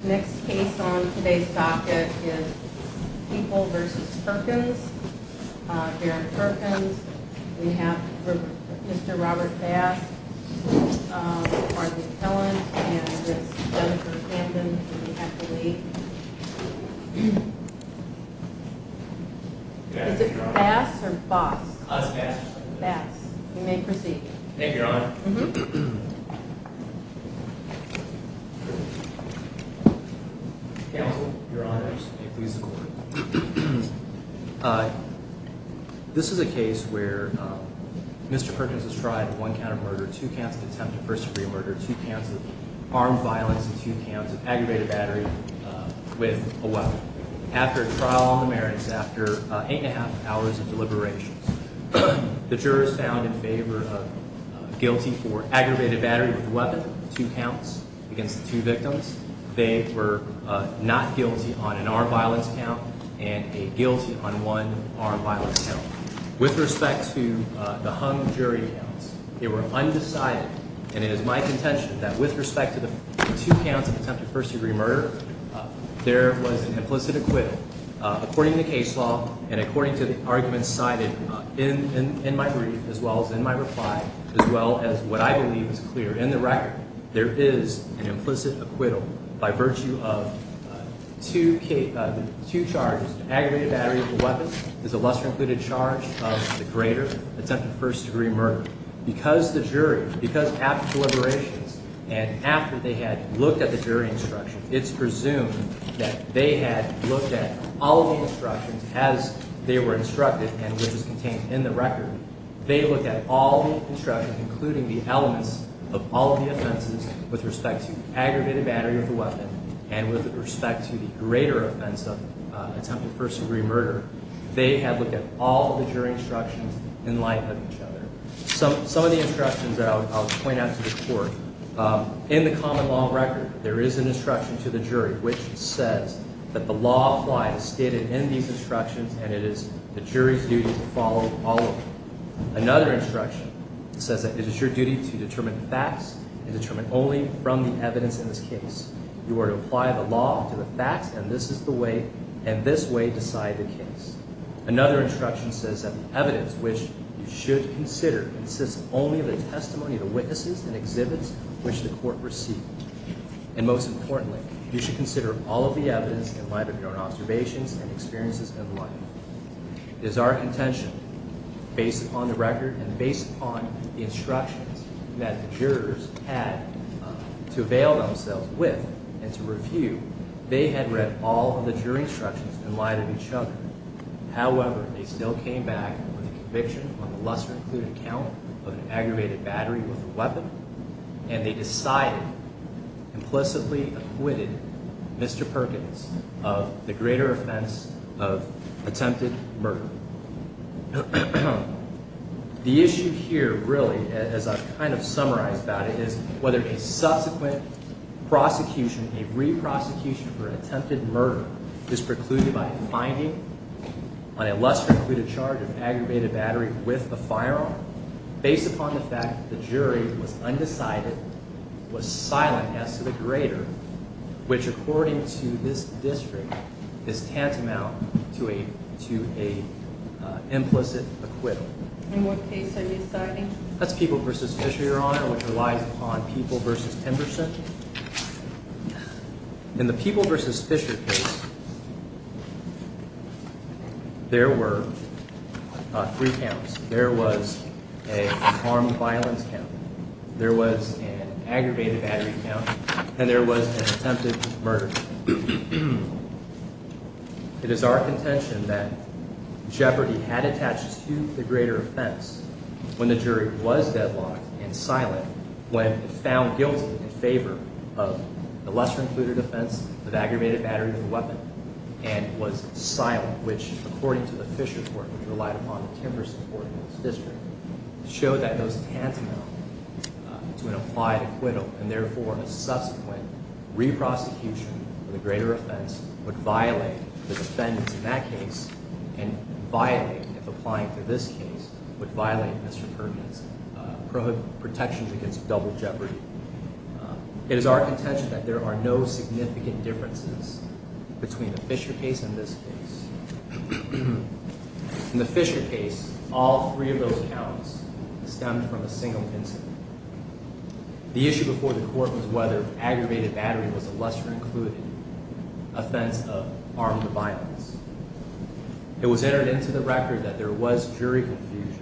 Next case on today's docket is People v. Perkins. Derek Perkins We have Mr. Robert Bass Martin Kellent and this is Jennifer Camden who we have to leave. Is it Bass or Boss? Us Bass. Bass. You may proceed. Thank you, Your Honor. Counsel, Your Honors, may it please the Court. This is a case where Mr. Perkins has tried one count of murder, two counts of attempted first degree murder, two counts of armed violence, and two counts of aggravated battery with a weapon. After a trial on the merits, after eight and a half hours of deliberations, the jurors found in favor of guilty for aggravated battery with a weapon, two counts against the two victims. They were not guilty on an armed violence count and a guilty on one armed violence count. With respect to the hung jury counts, they were undecided, and it is my contention that with respect to the two counts of attempted first degree murder, there was an implicit acquittal. According to case law and according to the arguments cited in my brief, as well as in my reply, as well as what I believe is clear in the record, there is an implicit acquittal by virtue of two charges. The aggravated battery with a weapon is a lesser included charge of the greater attempted first degree murder. Because the jury, because after deliberations and after they had looked at the jury instructions, it's presumed that they had looked at all the instructions as they were instructed and which was contained in the record. They looked at all the instructions, including the elements of all of the offenses with respect to the aggravated battery of the weapon and with respect to the greater offense of attempted first degree murder. They had looked at all of the jury instructions in light of each other. Some of the instructions that I'll point out to the court, in the common law record, there is an instruction to the jury which says that the law applied is stated in these instructions and it is the jury's duty to follow all of them. Another instruction says that it is your duty to determine facts and determine only from the evidence in this case. You are to apply the law to the facts and this way decide the case. Another instruction says that the evidence which you should consider consists only of the testimony of the witnesses and exhibits which the court received. And most importantly, you should consider all of the evidence in light of your own observations and experiences in life. It is our contention, based upon the record and based upon the instructions that the jurors had to avail themselves with and to review, they had read all of the jury instructions in light of each other. However, they still came back with a conviction on the lesser included count of an aggravated battery with a weapon and they decided, implicitly acquitted Mr. Perkins of the greater offense of attempted murder. The issue here really, as I've kind of summarized about it, is whether a subsequent prosecution, a re-prosecution for attempted murder is precluded by a finding on a lesser included charge of aggravated battery with a firearm based upon the fact that the jury was undecided, was silent as to the greater, which according to this district is tantamount to an implicit acquittal. In what case are you citing? That's People v. Fisher, Your Honor, which relies upon People v. Pemberson. In the People v. Fisher case, there were three counts. There was an armed violence count. There was an aggravated battery count. And there was an attempted murder count. It is our contention that jeopardy had attached to the greater offense when the jury was deadlocked and silent when found guilty in favor of the lesser included offense of aggravated battery with a weapon and was silent, which according to the Fisher court, which relied upon the Pemberson court in this district, showed that those tantamount to an applied acquittal and therefore a subsequent re-prosecution of the greater offense would violate the defendants in that case and violate, if applying to this case, would violate Mr. Pertman's protections against double jeopardy. It is our contention that there are no significant differences between the Fisher case and this case. In the Fisher case, all three of those counts stemmed from a single incident. The issue before the court was whether aggravated battery was a lesser included offense of armed violence. It was entered into the record that there was jury confusion.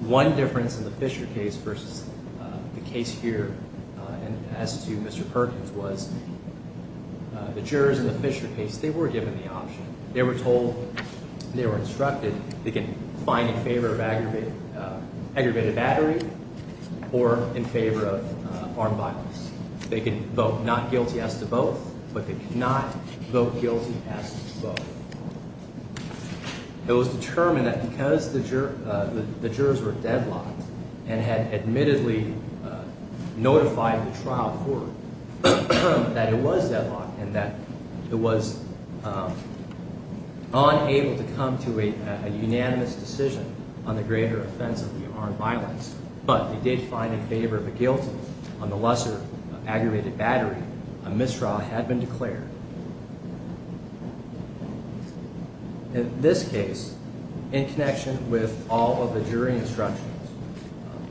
One difference in the Fisher case versus the case here and as to Mr. Perkins was the jurors in the Fisher case, they were given the option. They were told, they were instructed, they could find in favor of aggravated battery or in favor of armed violence. They could vote not guilty as to both, but they could not vote guilty as to both. It was determined that because the jurors were deadlocked and had admittedly notified the trial court that it was deadlocked and that it was unable to come to a unanimous decision on the greater offense of the armed violence, but they did find in favor of the guilty on the lesser aggravated battery, a misdraw had been declared. In this case, in connection with all of the jury instructions,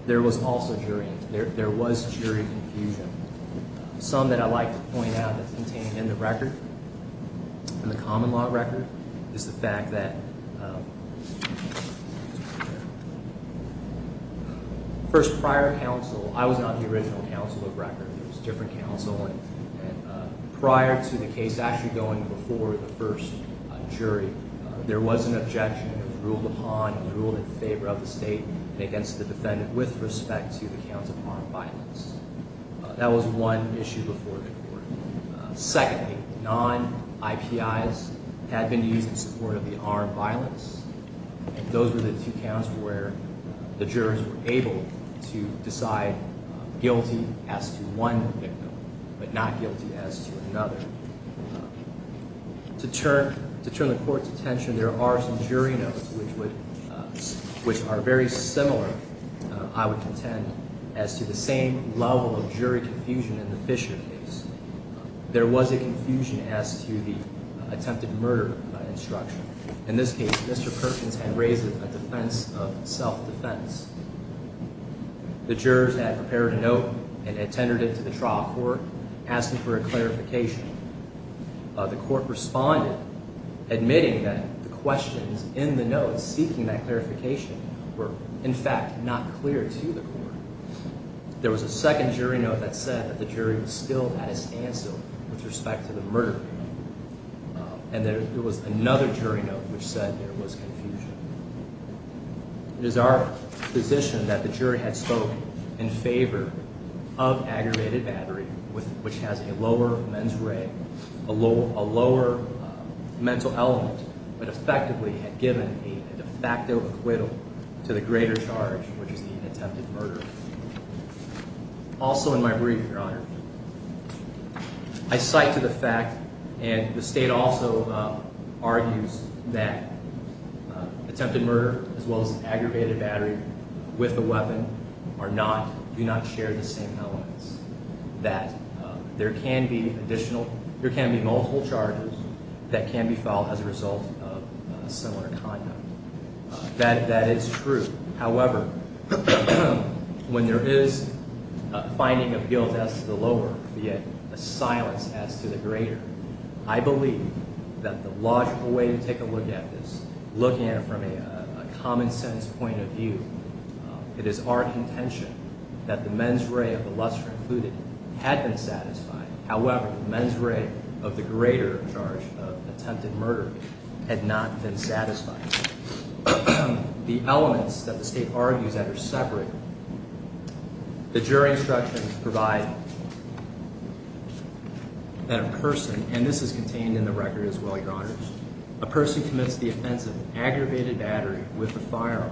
there was also jury, there was jury confusion. Some that I'd like to point out that's contained in the record in the common law record is the fact that first, prior counsel, I was not the original counsel of record. It was different counsel. Prior to the case actually going before the first jury, there was an objection that was ruled upon and ruled in favor of the state and against the defendant with respect to the counts of armed violence. That was one issue before the court. Secondly, non-IPIs had been used in support of the armed violence. Those were the two counts where the jurors were able to decide guilty as to one victim, but not guilty as to another. To turn the court's attention, there are some jury notes which are very similar, I would contend, as to the same level of jury confusion in the Fisher case. There was a confusion as to the attempted murder instruction. In this case, Mr. Perkins had raised a defense of self-defense. The jurors had prepared a note and had tendered it to the trial court, asking for a clarification. The jurors seeking that clarification were, in fact, not clear to the court. There was a second jury note that said that the jury was still at a standstill with respect to the murder. And there was another jury note which said there was confusion. It is our position that the jury had spoken in favor of aggravated battery, which has a lower mental element, but effectively had given a de facto acquittal to the greater charge, which is the attempted murder. Also in my brief, Your Honor, I cite to the fact, and the State also argues that attempted murder, as well as aggravated battery with a weapon, do not share the same elements, that there can be multiple charges that can be filed as a result of similar conduct. That is true. However, when there is a finding of guilt as to the lower, yet a silence as to the greater, I believe that the logical way to take a look at this, looking at it from a common sense point of view, it is our intention that the mens rea of the lesser included had been satisfied. However, mens rea of the greater charge of attempted murder had not been satisfied. The elements that the State argues that are separate, the jury instructions provide that a person, and this is contained in the record as well, Your Honor, a person commits the offense of aggravated battery with a firearm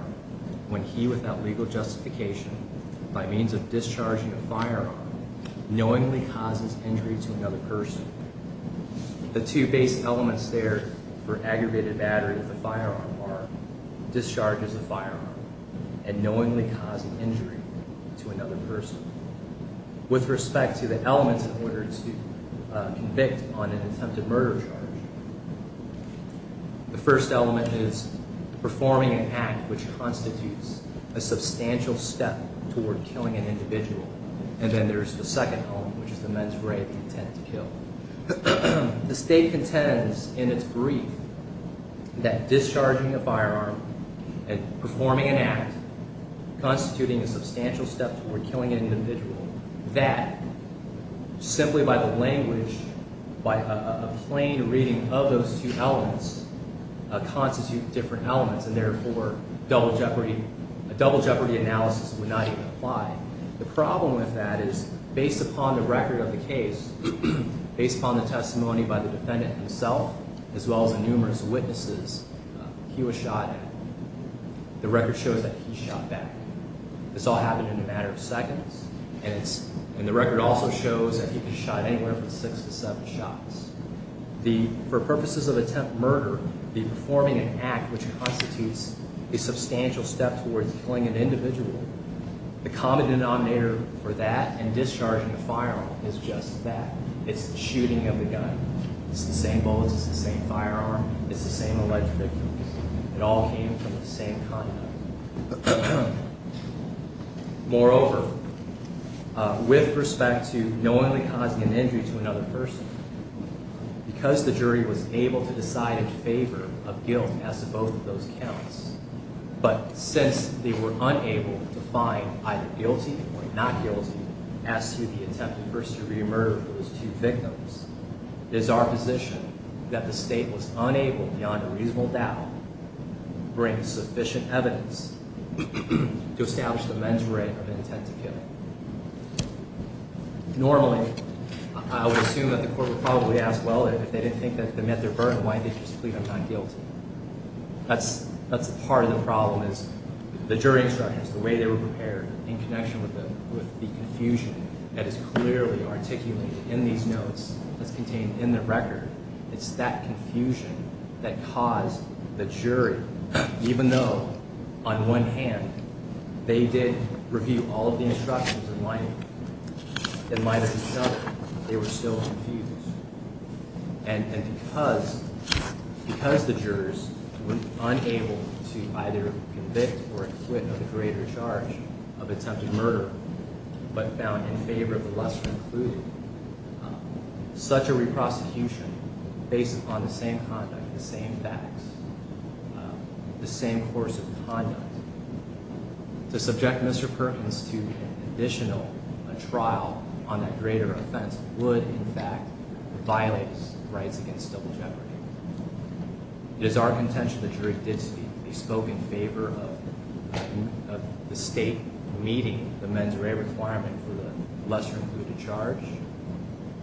when he, without legal justification, by means of discharging a firearm, knowingly causes injury to another person. The two basic elements there for aggravated battery with a firearm are discharges a firearm and knowingly causing injury to another person. With respect to the elements in order to convict on an attempted murder charge, the first element is performing an act which constitutes a substantial step toward killing an individual. And then there's the second element, which is the mens rea of intent to kill. The State contends in its brief that discharging a firearm and performing an act constituting a substantial step toward killing an individual, that simply by the language, by a plain reading of those two elements, constitute different elements, and therefore a double jeopardy analysis would not even apply. The problem with that is, based upon the record of the case, based upon the testimony by the defendant himself, as well as numerous witnesses, he was shot and the record shows that he shot back. This all happened in a matter of seconds, and the record also shows that he was shot anywhere from six to seven shots. For purposes of attempted murder, the performing an act which constitutes a substantial step toward killing an individual, the common denominator for that and discharging a firearm is just that. It's the shooting of the gun. It's the same bullets. It's the same firearm. It's the same alleged victims. It all came from the same conduct. Moreover, with respect to knowingly causing an injury to another person, because the jury was able to decide in favor of guilt as to both of those counts, but since they were unable to find either guilty or not guilty as to the attempted murder of those two victims, it is our position that the State was unable, beyond a reasonable doubt, to bring sufficient evidence to establish the men's rate of intent to kill. Normally, I would assume that the court would probably ask, well, if they didn't think that they met their burden, why did you just plead them not guilty? That's part of the problem is the jury instructors, the way they were prepared in connection with the confusion that is clearly articulated in these notes that's contained in the record. It's that confusion that caused the jury, even though, on one hand, they did review all of the instructions in light of it, in light of each other, they were still confused. And because the jurors were unable to either convict or acquit of the greater charge of attempted murder, but found in favor of the lesser included, such a re-prosecution, based upon the same conduct, the same facts, the same course of conduct, to subject Mr. Perkins to an additional trial on that greater offense would, in fact, violate his rights against double jeopardy. It is our intention that the jury did speak. They spoke in favor of the state meeting the mens rea requirement for the lesser included charge,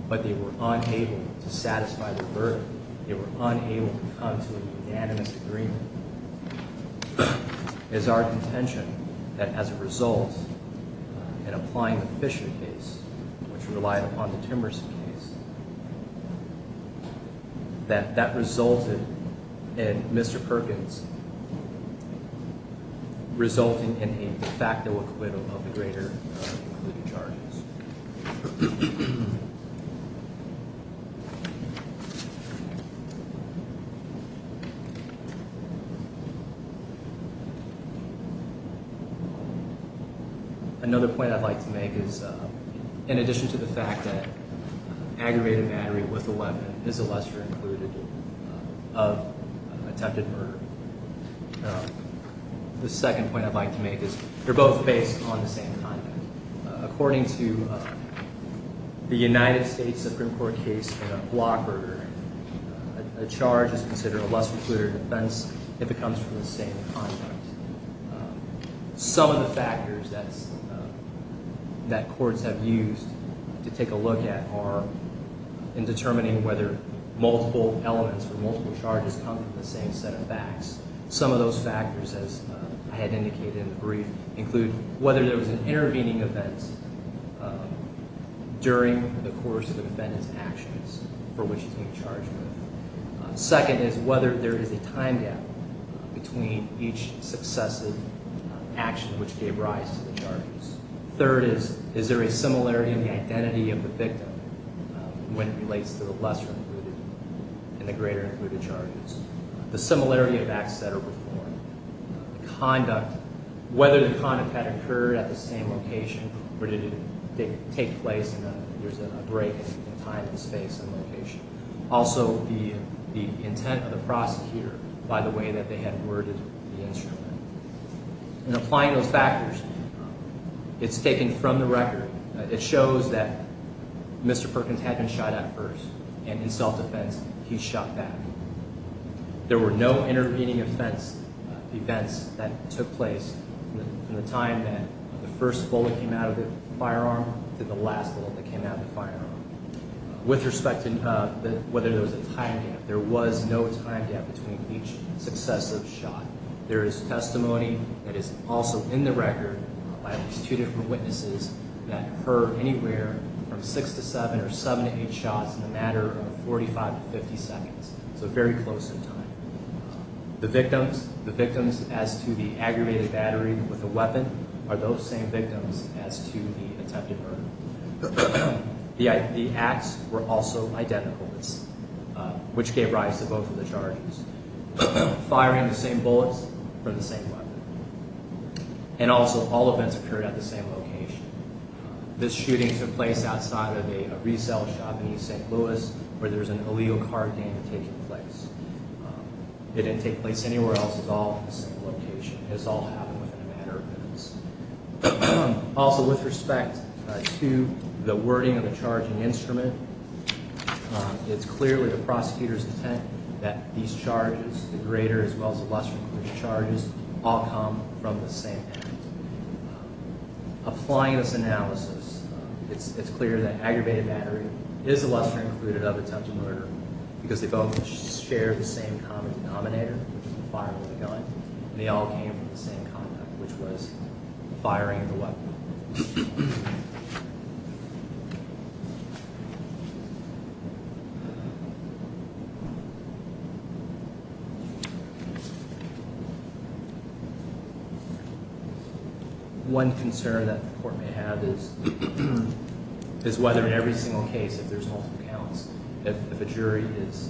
but they were unable to satisfy the burden. They were unable to come to an unanimous agreement. It is our intention that, as a result, in applying the Fisher case, which relied upon the Timerson case, that that resulted in Mr. Perkins resulting in a facto acquittal of the greater included charges. Thank you. Another point I'd like to make is, in addition to the fact that aggravated battery with a weapon is a lesser included of attempted murder, the second point I'd like to make is they're both based on the same conduct. According to the United States Supreme Court case on a block murder, a charge is considered a lesser included offense if it comes from the same conduct. Some of the factors that courts have used to take a look at are in determining whether multiple elements or multiple charges come from the same set of facts. Some of those factors, as I had indicated in the brief, include whether there was an intervening event during the course of the defendant's actions for which he's being charged with. Second is whether there is a time gap between each successive action which gave rise to the charges. Third is, is there a similarity in the identity of the victim when it relates to the lesser included and the greater included charges? The similarity of acts that are performed, conduct, whether the conduct had occurred at the same location or did it take place and there's a break in time and space and location. Also, the intent of the prosecutor by the way that they had worded the instrument. In applying those factors, it's taken from the record. It shows that Mr. Perkins had been shot at first and in self-defense he shot back. There were no intervening events that took place from the time that the first bullet came out of the firearm to the last bullet that came out of the firearm. With respect to whether there was a time gap, there was no time gap between each successive shot. There is testimony that is also in the record by at least two different witnesses that heard anywhere from six to seven or seven to eight shots in a matter of 45 to 50 seconds, so very close in time. The victims, the victims as to the aggravated battery with the weapon are those same victims as to the attempted murder. The acts were also identical, which gave rise to both of the charges. Firing the same bullets from the same weapon and also all events occurred at the same location. This shooting took place outside of a resale shop in East St. Louis where there was an illegal car gang taking place. It didn't take place anywhere else. It was all at the same location. It was all happening within a matter of minutes. Also, with respect to the wording of the charging instrument, it's clearly the prosecutor's intent that these charges, the greater as well as the lesser included charges, all come from the same act. Applying this analysis, it's clear that aggravated battery is the lesser included of attempted murder because they both share the same common denominator, which is the firearm and the gun, and they all came from the same compound, which was firing the weapon. One concern that the court may have is whether in every single case, if there's multiple counts, if a jury is,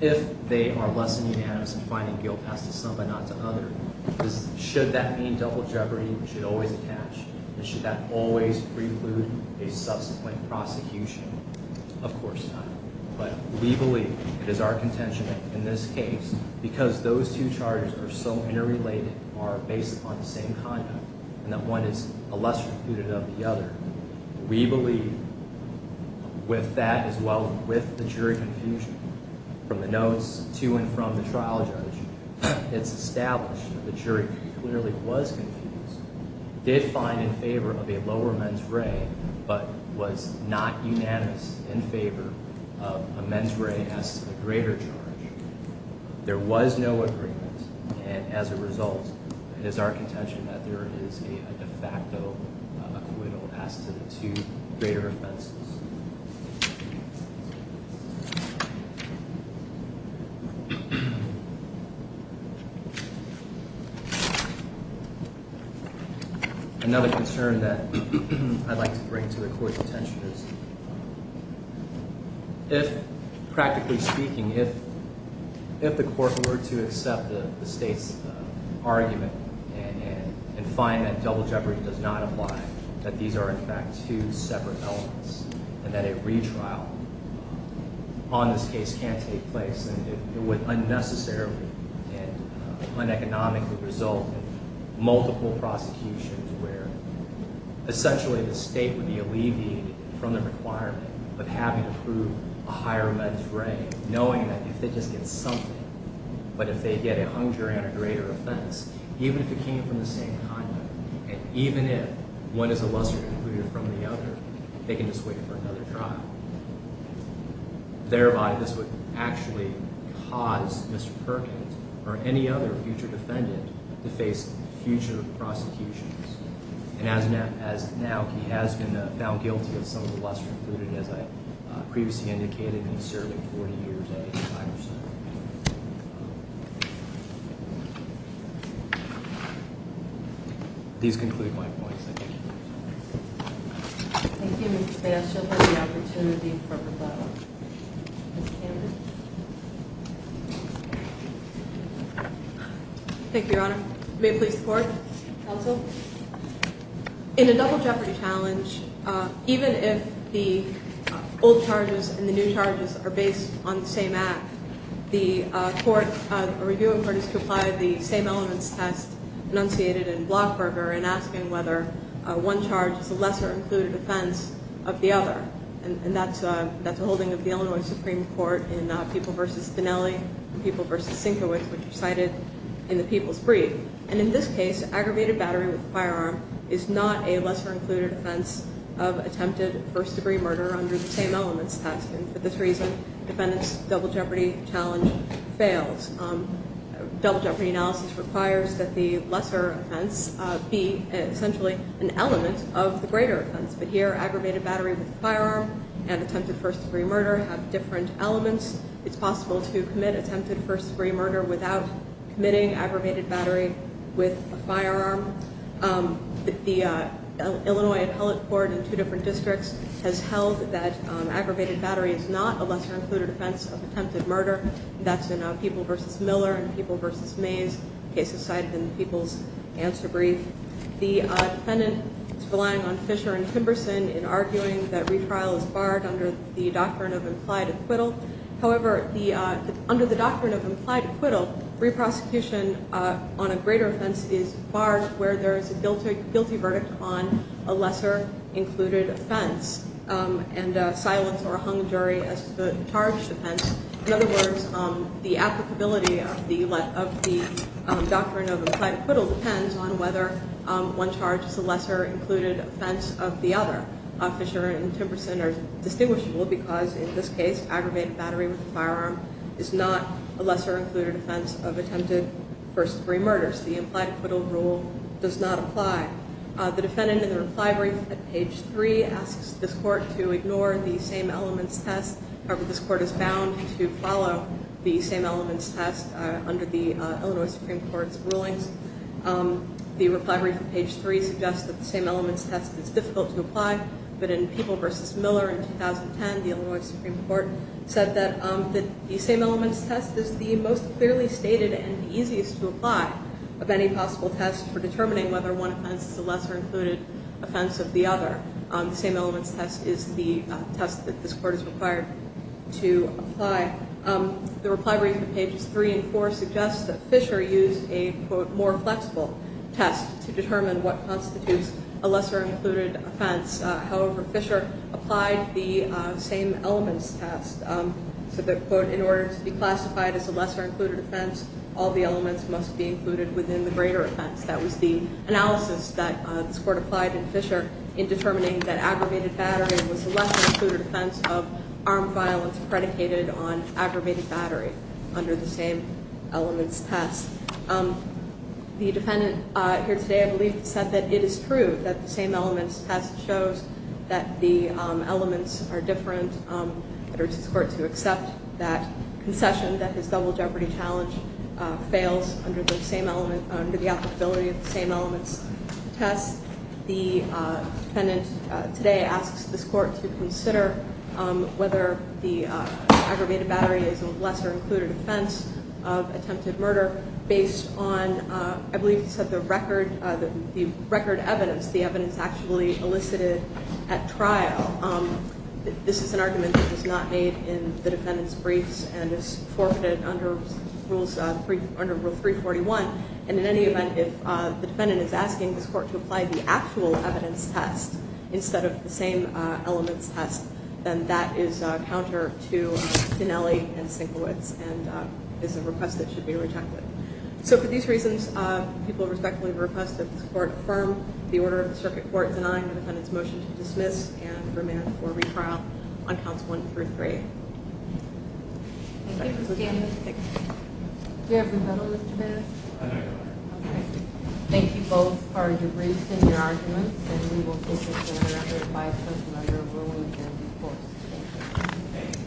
if they are less than unanimous in finding guilt as to some but not to others, should that mean double jeopardy should always attach and should that always preclude a subsequent prosecution? Of course not. But we believe it is our contention that in this case, because those two charges are so interrelated or based upon the same conduct and that one is a lesser included of the other, we believe with that as well as with the jury confusion from the notes to and from the trial judge, it's established that the jury clearly was confused, did find in favor of a lower men's ray, but was not unanimous in favor of a men's ray as to the greater charge. There was no agreement, and as a result, it is our contention that there is a de facto acquittal as to the two greater offenses. Another concern that I'd like to bring to the court's attention is if, practically speaking, if the court were to accept the state's argument and find that double jeopardy does not apply, that these are in fact two separate elements and that a retrial on this case can't take place and it would unnecessarily and uneconomically result in multiple prosecutions where essentially the state would be alleviated from the requirement of having to prove a higher men's ray, knowing that if they just get something, but if they get a hung jury on a greater offense, even if it came from the same conduct and even if one is a lesser included from the other, they can just wait for another trial. Thereby, this would actually cause Mr. Perkins or any other future defendant to face future prosecutions. And as of now, he has been found guilty of some of the lesser included, as I previously indicated, in serving 40 years at the Tiger Center. These conclude my points. Thank you, Mr. Bass. You'll have the opportunity for a rebuttal. Ms. Cameron? Thank you, Your Honor. May it please the Court? Counsel? In a double jeopardy challenge, even if the old charges and the new charges are based on the same act, the court, a review of court is to apply the same elements test enunciated in Blockberger in asking whether one charge is a lesser included offense of the other. And that's a holding of the Illinois Supreme Court in People v. Finnelli and People v. Sinkowitz, which are cited in the People's Brief. And in this case, aggravated battery with a firearm is not a lesser included offense of attempted first degree murder under the same elements test. And for this reason, the defendant's double jeopardy challenge fails. Double jeopardy analysis requires that the lesser offense be essentially an element of the greater offense. But here, aggravated battery with a firearm and attempted first degree murder have different elements. It's possible to commit attempted first degree murder without committing aggravated battery with a firearm. The Illinois Appellate Court in two different districts has held that aggravated battery is not a lesser included offense of attempted murder. That's in People v. Miller and People v. Mays, cases cited in the People's Answer Brief. The defendant is relying on Fisher and Timberson in arguing that retrial is barred under the doctrine of implied acquittal. However, under the doctrine of implied acquittal, reprosecution on a greater offense is barred where there is a guilty verdict on a lesser included offense and a silence or a hung jury as to the charged offense. In other words, the applicability of the doctrine of implied acquittal depends on whether one charge is a lesser included offense of the other. Fisher and Timberson are distinguishable because, in this case, aggravated battery with a firearm is not a lesser included offense of attempted first degree murders. The implied acquittal rule does not apply. The defendant in the reply brief at page 3 asks this court to ignore the same elements test. However, this court is bound to follow the same elements test under the Illinois Supreme Court's rulings. The reply brief at page 3 suggests that the same elements test is difficult to apply, but in People v. Miller in 2010, the Illinois Supreme Court said that the same elements test is the most clearly stated and easiest to apply of any possible test for determining whether one offense is a lesser included offense of the other. The same elements test is the test that this court is required to apply. In fact, the reply brief at pages 3 and 4 suggests that Fisher used a, quote, more flexible test to determine what constitutes a lesser included offense. However, Fisher applied the same elements test, said that, quote, in order to be classified as a lesser included offense, all the elements must be included within the greater offense. That was the analysis that this court applied to Fisher in determining that aggravated battery was a lesser included offense of armed violence predicated on aggravated battery under the same elements test. The defendant here today, I believe, said that it is true that the same elements test shows that the elements are different. It urges this court to accept that concession that this double jeopardy challenge fails under the same element, under the applicability of the same elements test. The defendant today asks this court to consider whether the aggravated battery is a lesser included offense of attempted murder based on, I believe he said, the record evidence, the evidence actually elicited at trial. This is an argument that was not made in the defendant's briefs and is forfeited under Rule 341. And in any event, if the defendant is asking this court to apply the actual evidence test instead of the same elements test, then that is a counter to Tinelli and Sinkowitz and is a request that should be rejected. So for these reasons, people respectfully request that this court affirm the order of the circuit court denying the defendant's motion to dismiss and remand for retrial on counts one through three. Thank you for standing. Do you have your medal, Mr. Baird? I do. Okay. Thank you both for your briefs and your arguments, and we will take this to another five-minute measure where we will adjourn these courts. Thank you.